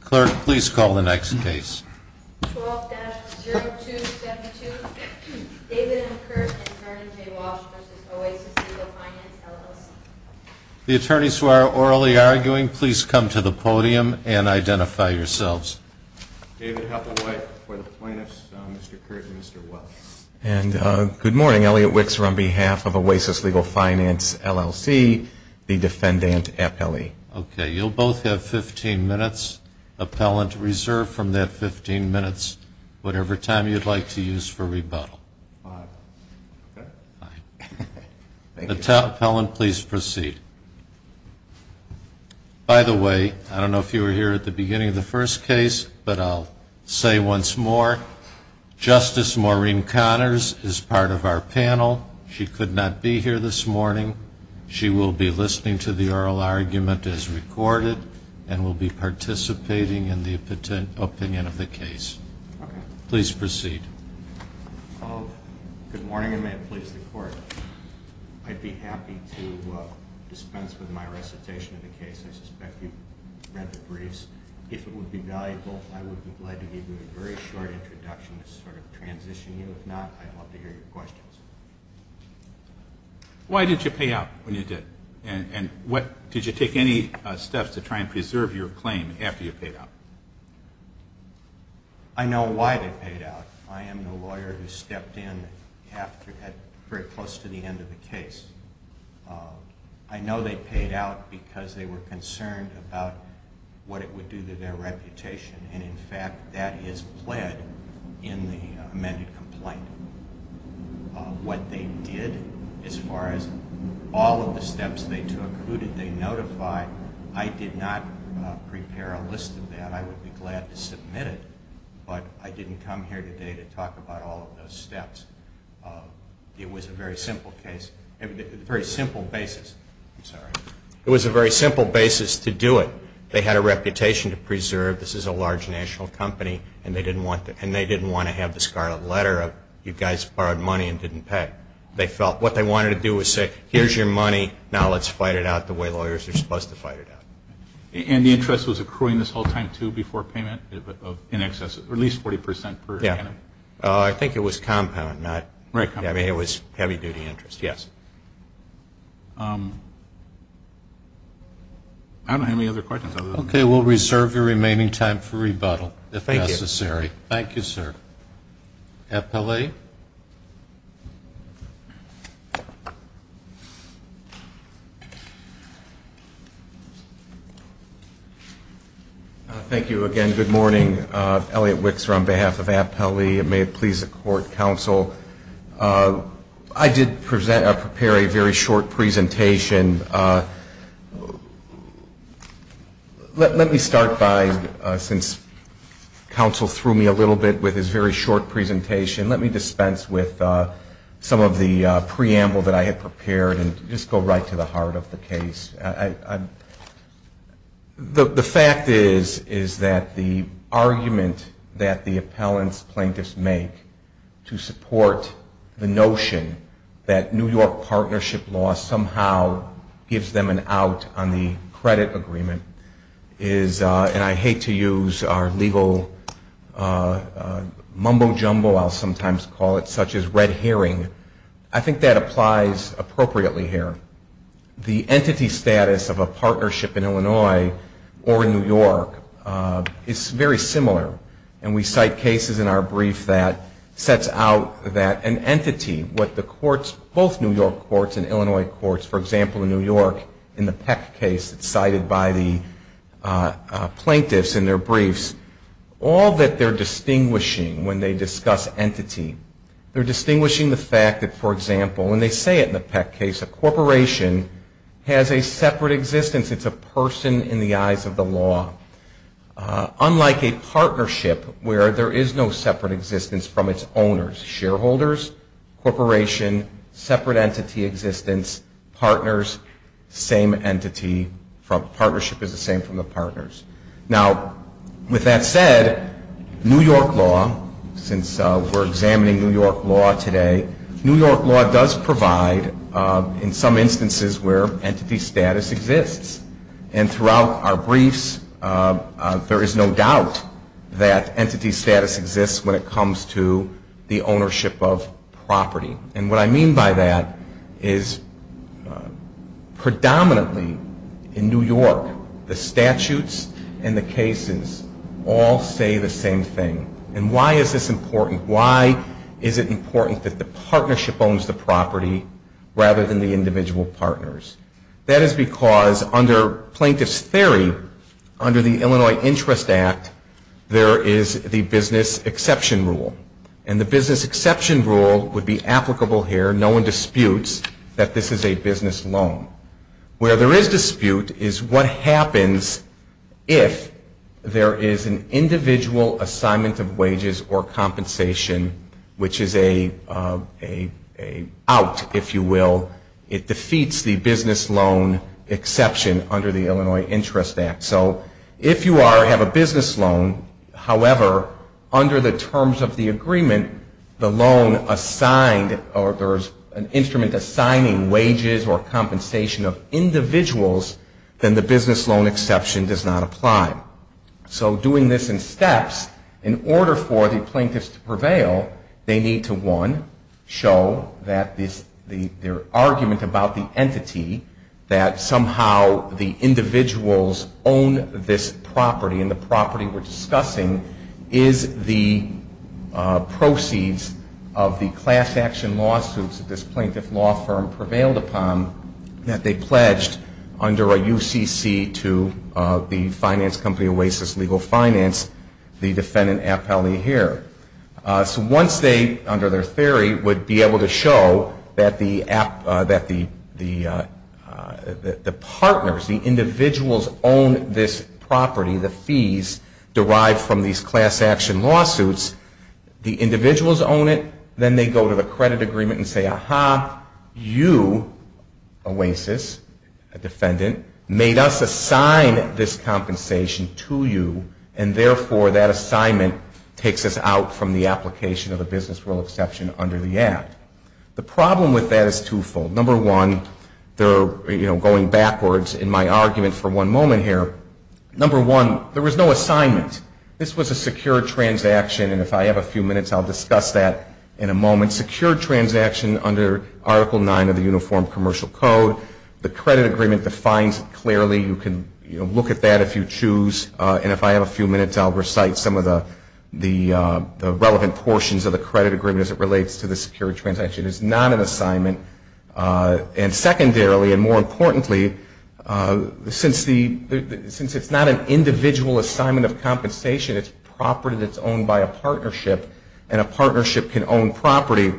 Clerk, please call the next case. 12-0272, David M. Kert and Terry J. Walsh v. Oasis Legal Finance, LLC The attorneys who are orally arguing, please come to the podium and identify yourselves. David Hathaway for the plaintiffs, Mr. Kert and Mr. Walsh. And good morning, Elliot Wickser on behalf of Oasis Legal Finance, LLC, the defendant, FLE. Okay, you'll both have 15 minutes. Appellant, reserve from that 15 minutes whatever time you'd like to use for rebuttal. Five. Okay. Fine. Thank you. Appellant, please proceed. By the way, I don't know if you were here at the beginning of the first case, but I'll say once more, Justice Maureen Connors is part of our panel. She could not be here this morning. She will be listening to the oral argument as recorded and will be participating in the opinion of the case. Okay. Please proceed. Good morning, and may it please the Court. I'd be happy to dispense with my recitation of the case. I suspect you've read the briefs. If it would be valuable, I would be glad to give you a very short introduction to sort of transition you. If not, I'd love to hear your questions. Why did you pay out when you did? And did you take any steps to try and preserve your claim after you paid out? I know why they paid out. I am the lawyer who stepped in after it was very close to the end of the case. I know they paid out because they were concerned about what it would do to their reputation, and, in fact, that is pled in the amended complaint. What they did as far as all of the steps they took, who did they notify, I did not prepare a list of that. I would be glad to submit it, but I didn't come here today to talk about all of those steps. It was a very simple case, a very simple basis. I'm sorry. It was a very simple basis to do it. They had a reputation to preserve. This is a large national company, and they didn't want to have the scarlet letter of, you guys borrowed money and didn't pay. They felt what they wanted to do was say, here's your money, now let's fight it out the way lawyers are supposed to fight it out. And the interest was accruing this whole time, too, before payment? In excess of at least 40% per annum? I think it was compound, not heavy. It was heavy-duty interest, yes. I don't have any other questions. Okay. We'll reserve your remaining time for rebuttal, if necessary. Thank you. Thank you, sir. Appellee? Thank you again. Good morning. Elliot Wixor on behalf of Appellee. It may please the Court Counsel. I did prepare a very short presentation. Let me start by, since Counsel threw me a little bit with his very short presentation, let me dispense with some of the preamble that I had prepared and just go right to the heart of the case. The fact is that the argument that the appellant's plaintiffs make to support the notion that New York partnership law somehow gives them an out on the credit agreement is, and I hate to use our legal mumbo-jumbo, I'll sometimes call it, such as red herring. I think that applies appropriately here. The entity status of a partnership in Illinois or New York is very similar. And we cite cases in our brief that sets out that an entity, what the courts, both New York courts and Illinois courts, for example, in New York, in the Peck case that's cited by the plaintiffs in their briefs, all that they're distinguishing when they discuss entity, they're distinguishing the fact that, for example, and they say it in the Peck case, a corporation has a separate existence. It's a person in the eyes of the law. Unlike a partnership where there is no separate existence from its owners, shareholders, corporation, separate entity existence, partners, same entity, partnership is the same from the partners. Now, with that said, New York law, since we're examining New York law today, New York law does provide in some instances where entity status exists. And throughout our briefs, there is no doubt that entity status exists when it comes to the ownership of property. And what I mean by that is predominantly in New York, the statutes and the cases all say the same thing. And why is this important? Why is it important that the partnership owns the property rather than the individual partners? That is because under plaintiff's theory, under the Illinois Interest Act, there is the business exception rule. And the business exception rule would be applicable here. No one disputes that this is a business loan. Where there is dispute is what happens if there is an individual assignment of wages or compensation, which is an out, if you will. It defeats the business loan exception under the Illinois Interest Act. So if you have a business loan, however, under the terms of the agreement, the loan assigned or there is an instrument assigning wages or compensation of individuals, then the business loan exception does not apply. So doing this in steps, in order for the plaintiffs to prevail, they need to, one, show that their argument about the entity, that somehow the individuals own this property, and the property we're discussing is the proceeds of the class action lawsuits that this plaintiff law firm prevailed upon that they pledged under a UCC to the finance company Oasis Legal Finance, the defendant Appellee Heer. So once they, under their theory, would be able to show that the partners, the individuals own this property, the fees derived from these class action lawsuits, the individuals own it, then they go to the credit agreement and say, aha, you, Oasis, a defendant, made us assign this compensation to you, and therefore that assignment takes us out from the application of the business loan exception under the Act. The problem with that is twofold. Number one, going backwards in my argument for one moment here, number one, there was no assignment. This was a secured transaction, and if I have a few minutes, I'll discuss that in a moment. Secured transaction under Article 9 of the Uniform Commercial Code. The credit agreement defines it clearly. You can look at that if you choose, and if I have a few minutes, I'll recite some of the relevant portions of the credit agreement as it relates to the secured transaction. It's not an assignment. And secondarily, and more importantly, since it's not an individual assignment of compensation, it's property that's owned by a partnership, and a partnership can own property.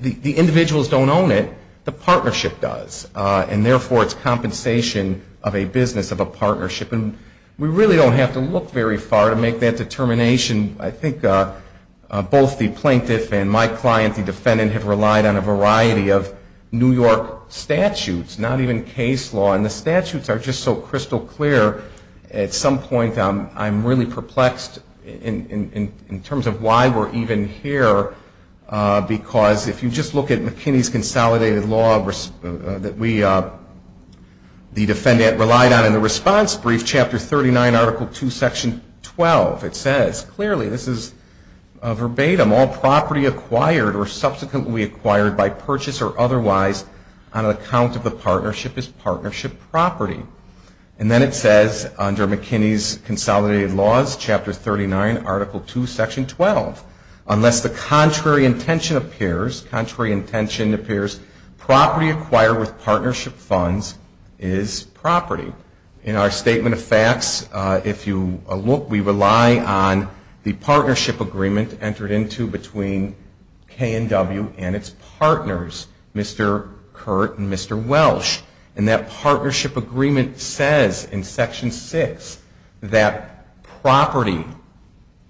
The individuals don't own it. The partnership does, and therefore it's compensation of a business of a partnership. And we really don't have to look very far to make that determination. I think both the plaintiff and my client, the defendant, have relied on a variety of New York statutes, not even case law, and the statutes are just so crystal clear. At some point, I'm really perplexed in terms of why we're even here, because if you just look at McKinney's Consolidated Law that the defendant relied on in the response brief, chapter 39, article 2, section 12, it says clearly, this is verbatim, all property acquired or subsequently acquired by purchase or otherwise on account of the partnership is partnership property. And then it says under McKinney's Consolidated Laws, chapter 39, article 2, section 12, unless the contrary intention appears, property acquired with partnership funds is property. In our statement of facts, if you look, we rely on the partnership agreement entered into between K&W and its partners, Mr. Kurt and Mr. Welsh. And that partnership agreement says in section 6 that property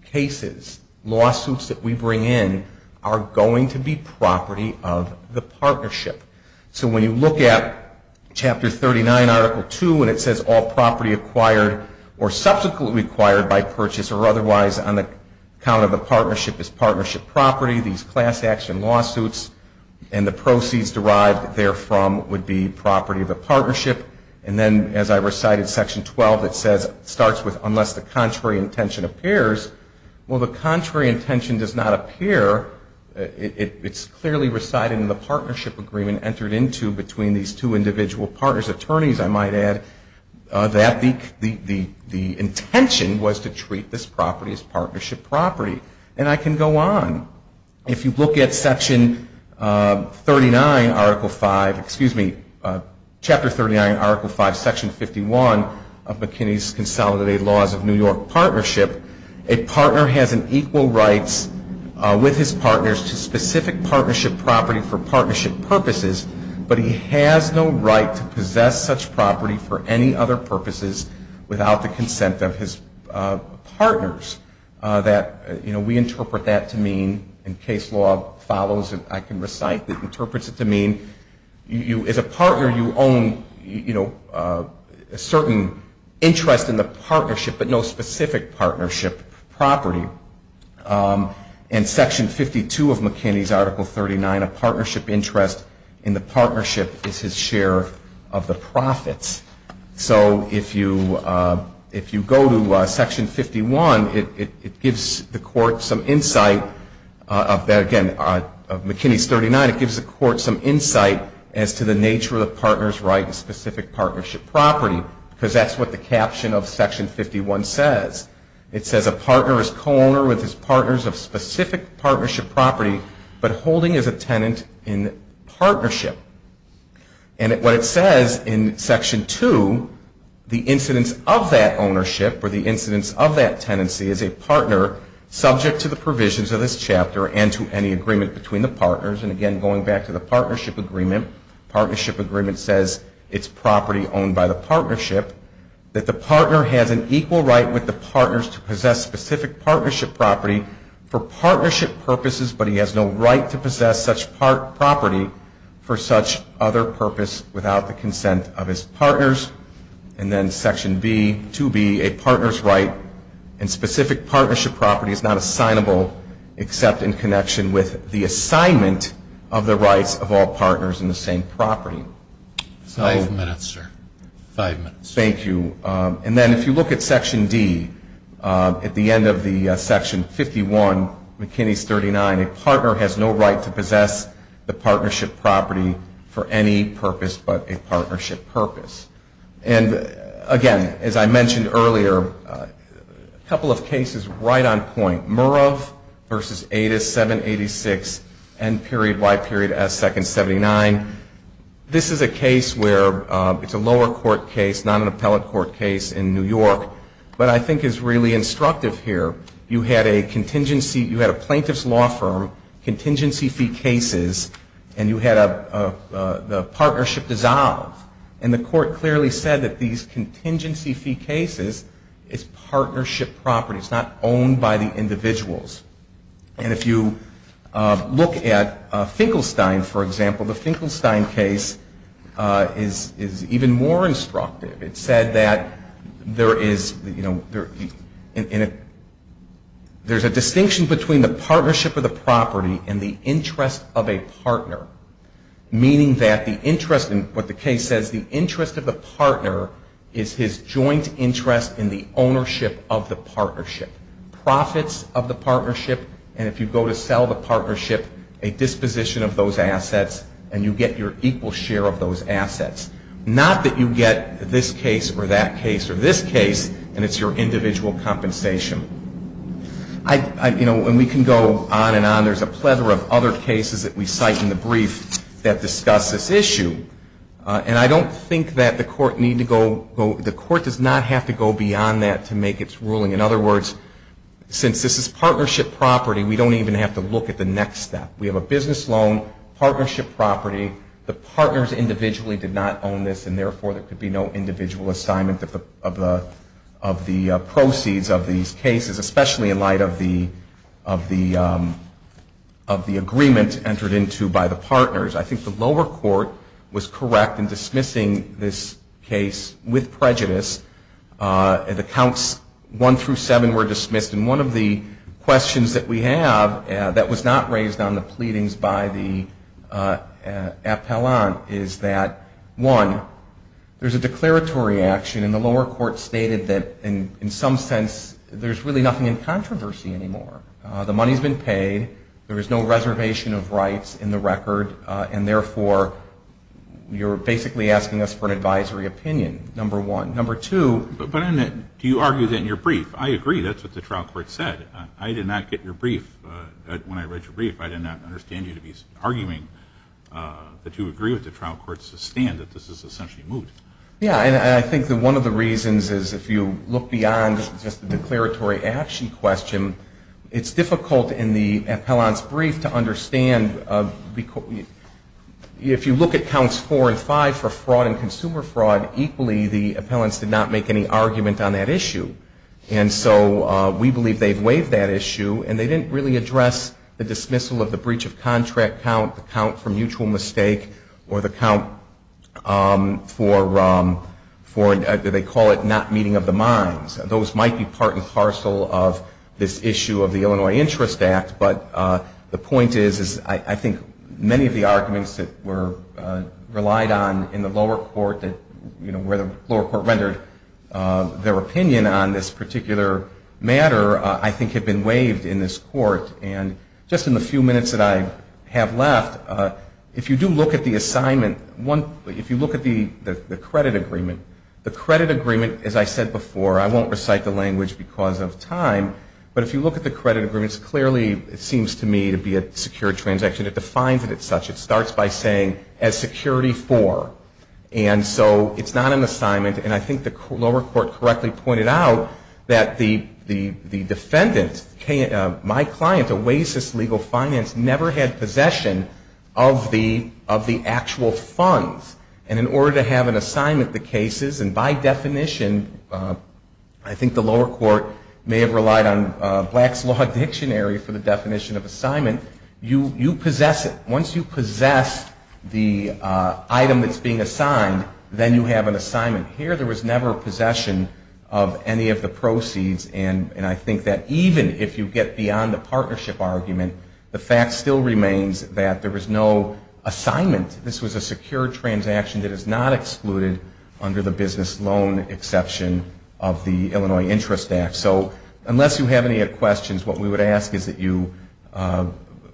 cases, lawsuits that we bring in, are going to be property of the partnership. So when you look at chapter 39, article 2, and it says all property acquired or subsequently acquired by purchase or otherwise on account of the partnership is partnership property, these class action lawsuits, and the proceeds derived therefrom would be property of the partnership. And then as I recited section 12, it says it starts with unless the contrary intention appears. Well, the contrary intention does not appear. It's clearly recited in the partnership agreement entered into between these two individual partners. Attorneys, I might add, that the intention was to treat this property as partnership property. And I can go on. If you look at section 39, article 5, excuse me, chapter 39, article 5, section 51, of McKinney's Consolidated Laws of New York Partnership, a partner has an equal rights with his partners to specific partnership property for partnership purposes, but he has no right to possess such property for any other purposes without the consent of his partners. That, you know, we interpret that to mean, in case law follows and I can recite, it interprets it to mean as a partner you own, you know, a certain interest in the partnership but no specific partnership property. In section 52 of McKinney's article 39, a partnership interest in the partnership is his share of the profits. So if you go to section 51, it gives the court some insight of that, again, McKinney's 39, it gives the court some insight as to the nature of the partner's right to specific partnership property because that's what the caption of section 51 says. It says a partner is co-owner with his partners of specific partnership property but holding as a tenant in partnership. And what it says in section 2, the incidence of that ownership or the incidence of that tenancy is a partner subject to the provisions of this chapter and to any agreement between the partners. And again, going back to the partnership agreement, partnership agreement says it's property owned by the partnership, that the partner has an equal right with the partners to possess specific partnership property for partnership purposes but he has no right to possess such property for such other purpose without the consent of his partners. And then section 2B, a partner's right and specific partnership property is not assignable except in connection with the assignment of the rights of all partners in the same property. Five minutes, sir. Thank you. And then if you look at section D, at the end of the section 51, McKinney's 39, a partner has no right to possess the partnership property for any purpose but a partnership purpose. And again, as I mentioned earlier, a couple of cases right on point. Murov v. Adas, 786, N.Y.S. 2nd, 79. This is a case where it's a lower court case, not an appellate court case in New York, but I think is really instructive here. You had a contingency, you had a plaintiff's law firm, contingency fee cases, and you had the partnership dissolve. And the court clearly said that these contingency fee cases, it's partnership property. It's not owned by the individuals. And if you look at Finkelstein, for example, the Finkelstein case is even more instructive. It said that there is a distinction between the partnership of the property and the interest of a partner, meaning that the interest in what the case says, the interest of the partner is his joint interest in the ownership of the partnership, profits of the partnership. And if you go to sell the partnership, a disposition of those assets, and you get your equal share of those assets. Not that you get this case or that case or this case, and it's your individual compensation. And we can go on and on. There's a plethora of other cases that we cite in the brief that discuss this issue. And I don't think that the court need to go, the court does not have to go beyond that to make its ruling. In other words, since this is partnership property, we don't even have to look at the next step. We have a business loan, partnership property, the partners individually did not own this, and therefore there could be no individual assignment of the proceeds of these cases, especially in light of the agreement entered into by the partners. I think the lower court was correct in dismissing this case with prejudice. The counts one through seven were dismissed, and one of the questions that we have that was not raised on the pleadings by the appellant is that, one, there's a declaratory action, and the lower court stated that in some sense, there's really nothing in controversy anymore. The money's been paid. There is no reservation of rights in the record, and therefore you're basically asking us for an advisory opinion, number one. Number two. But do you argue that in your brief? I agree. That's what the trial court said. I did not get your brief when I read your brief. I did not understand you to be arguing that you agree with the trial court's stand that this is essentially moot. Yeah. And I think that one of the reasons is if you look beyond just the declaratory action question, it's difficult in the appellant's brief to understand. If you look at counts four and five for fraud and consumer fraud, equally the appellants did not make any argument on that issue. And so we believe they've waived that issue, and they didn't really address the dismissal of the breach of contract count, the count for mutual mistake, or the count for, they call it, not meeting of the minds. Those might be part and parcel of this issue of the Illinois Interest Act, but the point is I think many of the arguments that were relied on in the lower court, where the lower court rendered their opinion on this particular matter, I think have been waived in this court. And just in the few minutes that I have left, if you do look at the assignment, if you look at the credit agreement, the credit agreement, as I said before, I won't recite the language because of time, but if you look at the credit agreements, clearly it seems to me to be a secure transaction. It defines it as such. It starts by saying, as security for. And so it's not an assignment, and I think the lower court correctly pointed out that the defendant, my client, Oasis Legal Finance, never had possession of the actual funds. And in order to have an assignment, the cases, and by definition, I think the lower court may have relied on Black's Law Dictionary for the definition of assignment, you possess it. Once you possess the item that's being assigned, then you have an assignment. Here there was never possession of any of the proceeds, and I think that even if you get beyond the partnership argument, the fact still remains that there was no assignment. This was a secure transaction that is not excluded under the business loan exception of the Illinois Interest Act. So unless you have any questions, what we would ask is that you,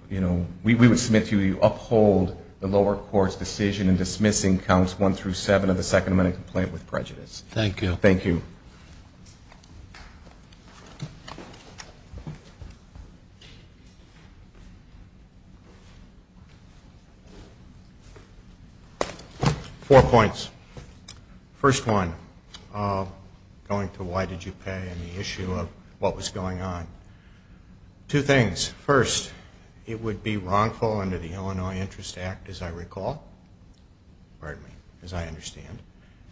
you know, we would submit to you that you uphold the lower court's decision in dismissing counts one through seven of the Second Amendment complaint with prejudice. Thank you. Thank you. Four points. First one, going to why did you pay and the issue of what was going on. Two things. First, it would be wrongful under the Illinois Interest Act, as I recall, pardon me, as I understand,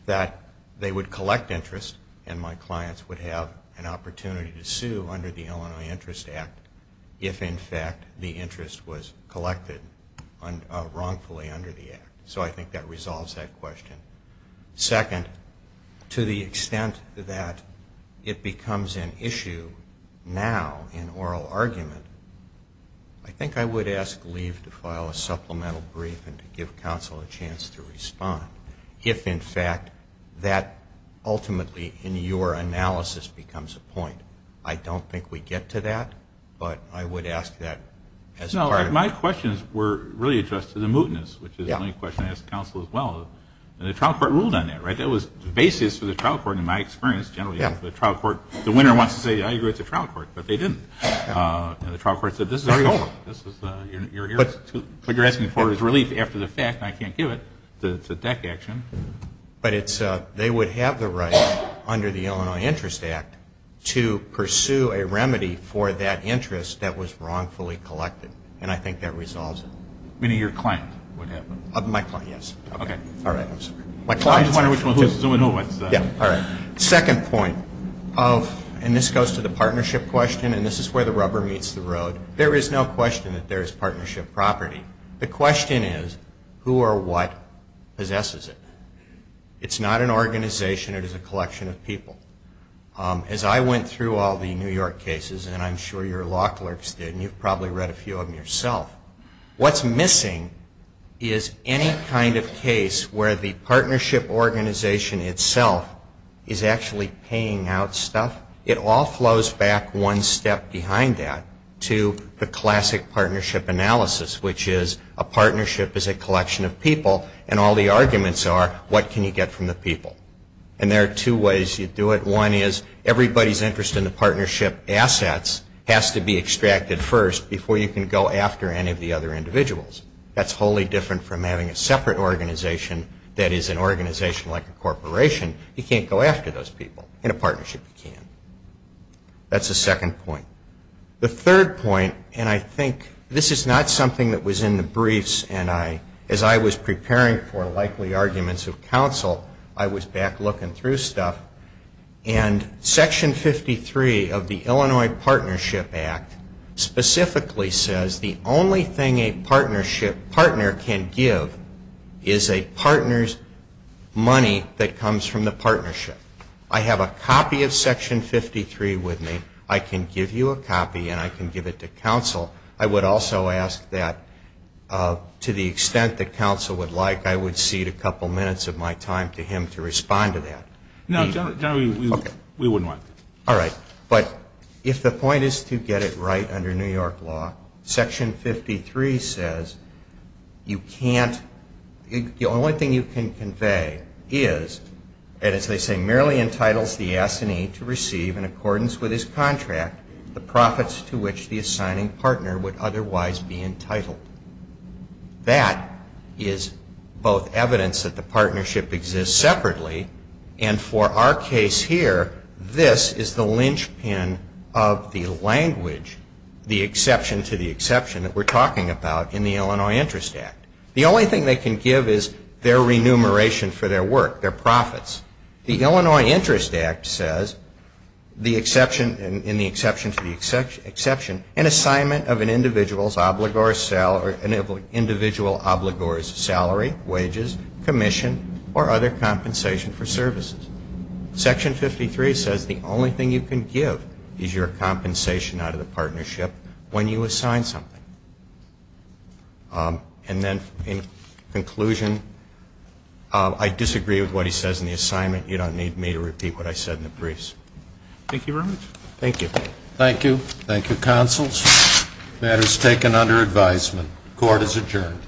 that they would collect interest, and my clients would have an opportunity to sue under the Illinois Interest Act if in fact the interest was collected wrongfully under the act. So I think that resolves that question. Second, to the extent that it becomes an issue now in oral argument, I think I would ask Liev to file a supplemental brief and to give counsel a chance to respond if in fact that ultimately in your analysis becomes a point. I don't think we get to that, but I would ask that as part of it. No, in fact, my questions were really addressed to the mootness, which is the only question I ask counsel as well. The trial court ruled on that, right? That was the basis for the trial court in my experience generally. The trial court, the winner wants to say, I agree with the trial court, but they didn't. The trial court said, this is over. What you're asking for is relief after the fact, and I can't give it. It's a deck action. But they would have the right under the Illinois Interest Act to pursue a remedy for that interest that was wrongfully collected, and I think that resolves it. Meaning your client would have it. My client, yes. Okay. All right, I'm sorry. I'm just wondering which one. Yeah, all right. Second point, and this goes to the partnership question, and this is where the rubber meets the road. There is no question that there is partnership property. The question is, who or what possesses it? It's not an organization. It is a collection of people. As I went through all the New York cases, and I'm sure your law clerks did, and you've probably read a few of them yourself, what's missing is any kind of case where the partnership organization itself is actually paying out stuff. It all flows back one step behind that to the classic partnership analysis, which is a partnership is a collection of people, and all the arguments are what can you get from the people? And there are two ways you do it. One is everybody's interest in the partnership assets has to be extracted first before you can go after any of the other individuals. That's wholly different from having a separate organization that is an organization like a corporation. You can't go after those people. In a partnership, you can. That's the second point. The third point, and I think this is not something that was in the briefs, and as I was preparing for likely arguments of counsel, I was back looking through stuff, and Section 53 of the Illinois Partnership Act specifically says the only thing a I have a copy of Section 53 with me. I can give you a copy, and I can give it to counsel. I would also ask that to the extent that counsel would like, I would cede a couple minutes of my time to him to respond to that. No, General, we wouldn't like that. All right. But if the point is to get it right under New York law, Section 53 says the only thing you can convey is, and as they say, merely entitles the assignee to receive in accordance with his contract the profits to which the assigning partner would otherwise be entitled. That is both evidence that the partnership exists separately, and for our case here, this is the linchpin of the language, the exception to the exception that we're talking about in the Illinois Interest Act. The only thing they can give is their remuneration for their work, their profits. The Illinois Interest Act says, in the exception to the exception, an assignment of an individual's obligor's salary, wages, commission, or other compensation for services. Section 53 says the only thing you can give is your compensation out of the partnership when you assign something. And then in conclusion, I disagree with what he says in the assignment. You don't need me to repeat what I said in the briefs. Thank you very much. Thank you. Thank you. Thank you, counsels. The matter is taken under advisement. Court is adjourned.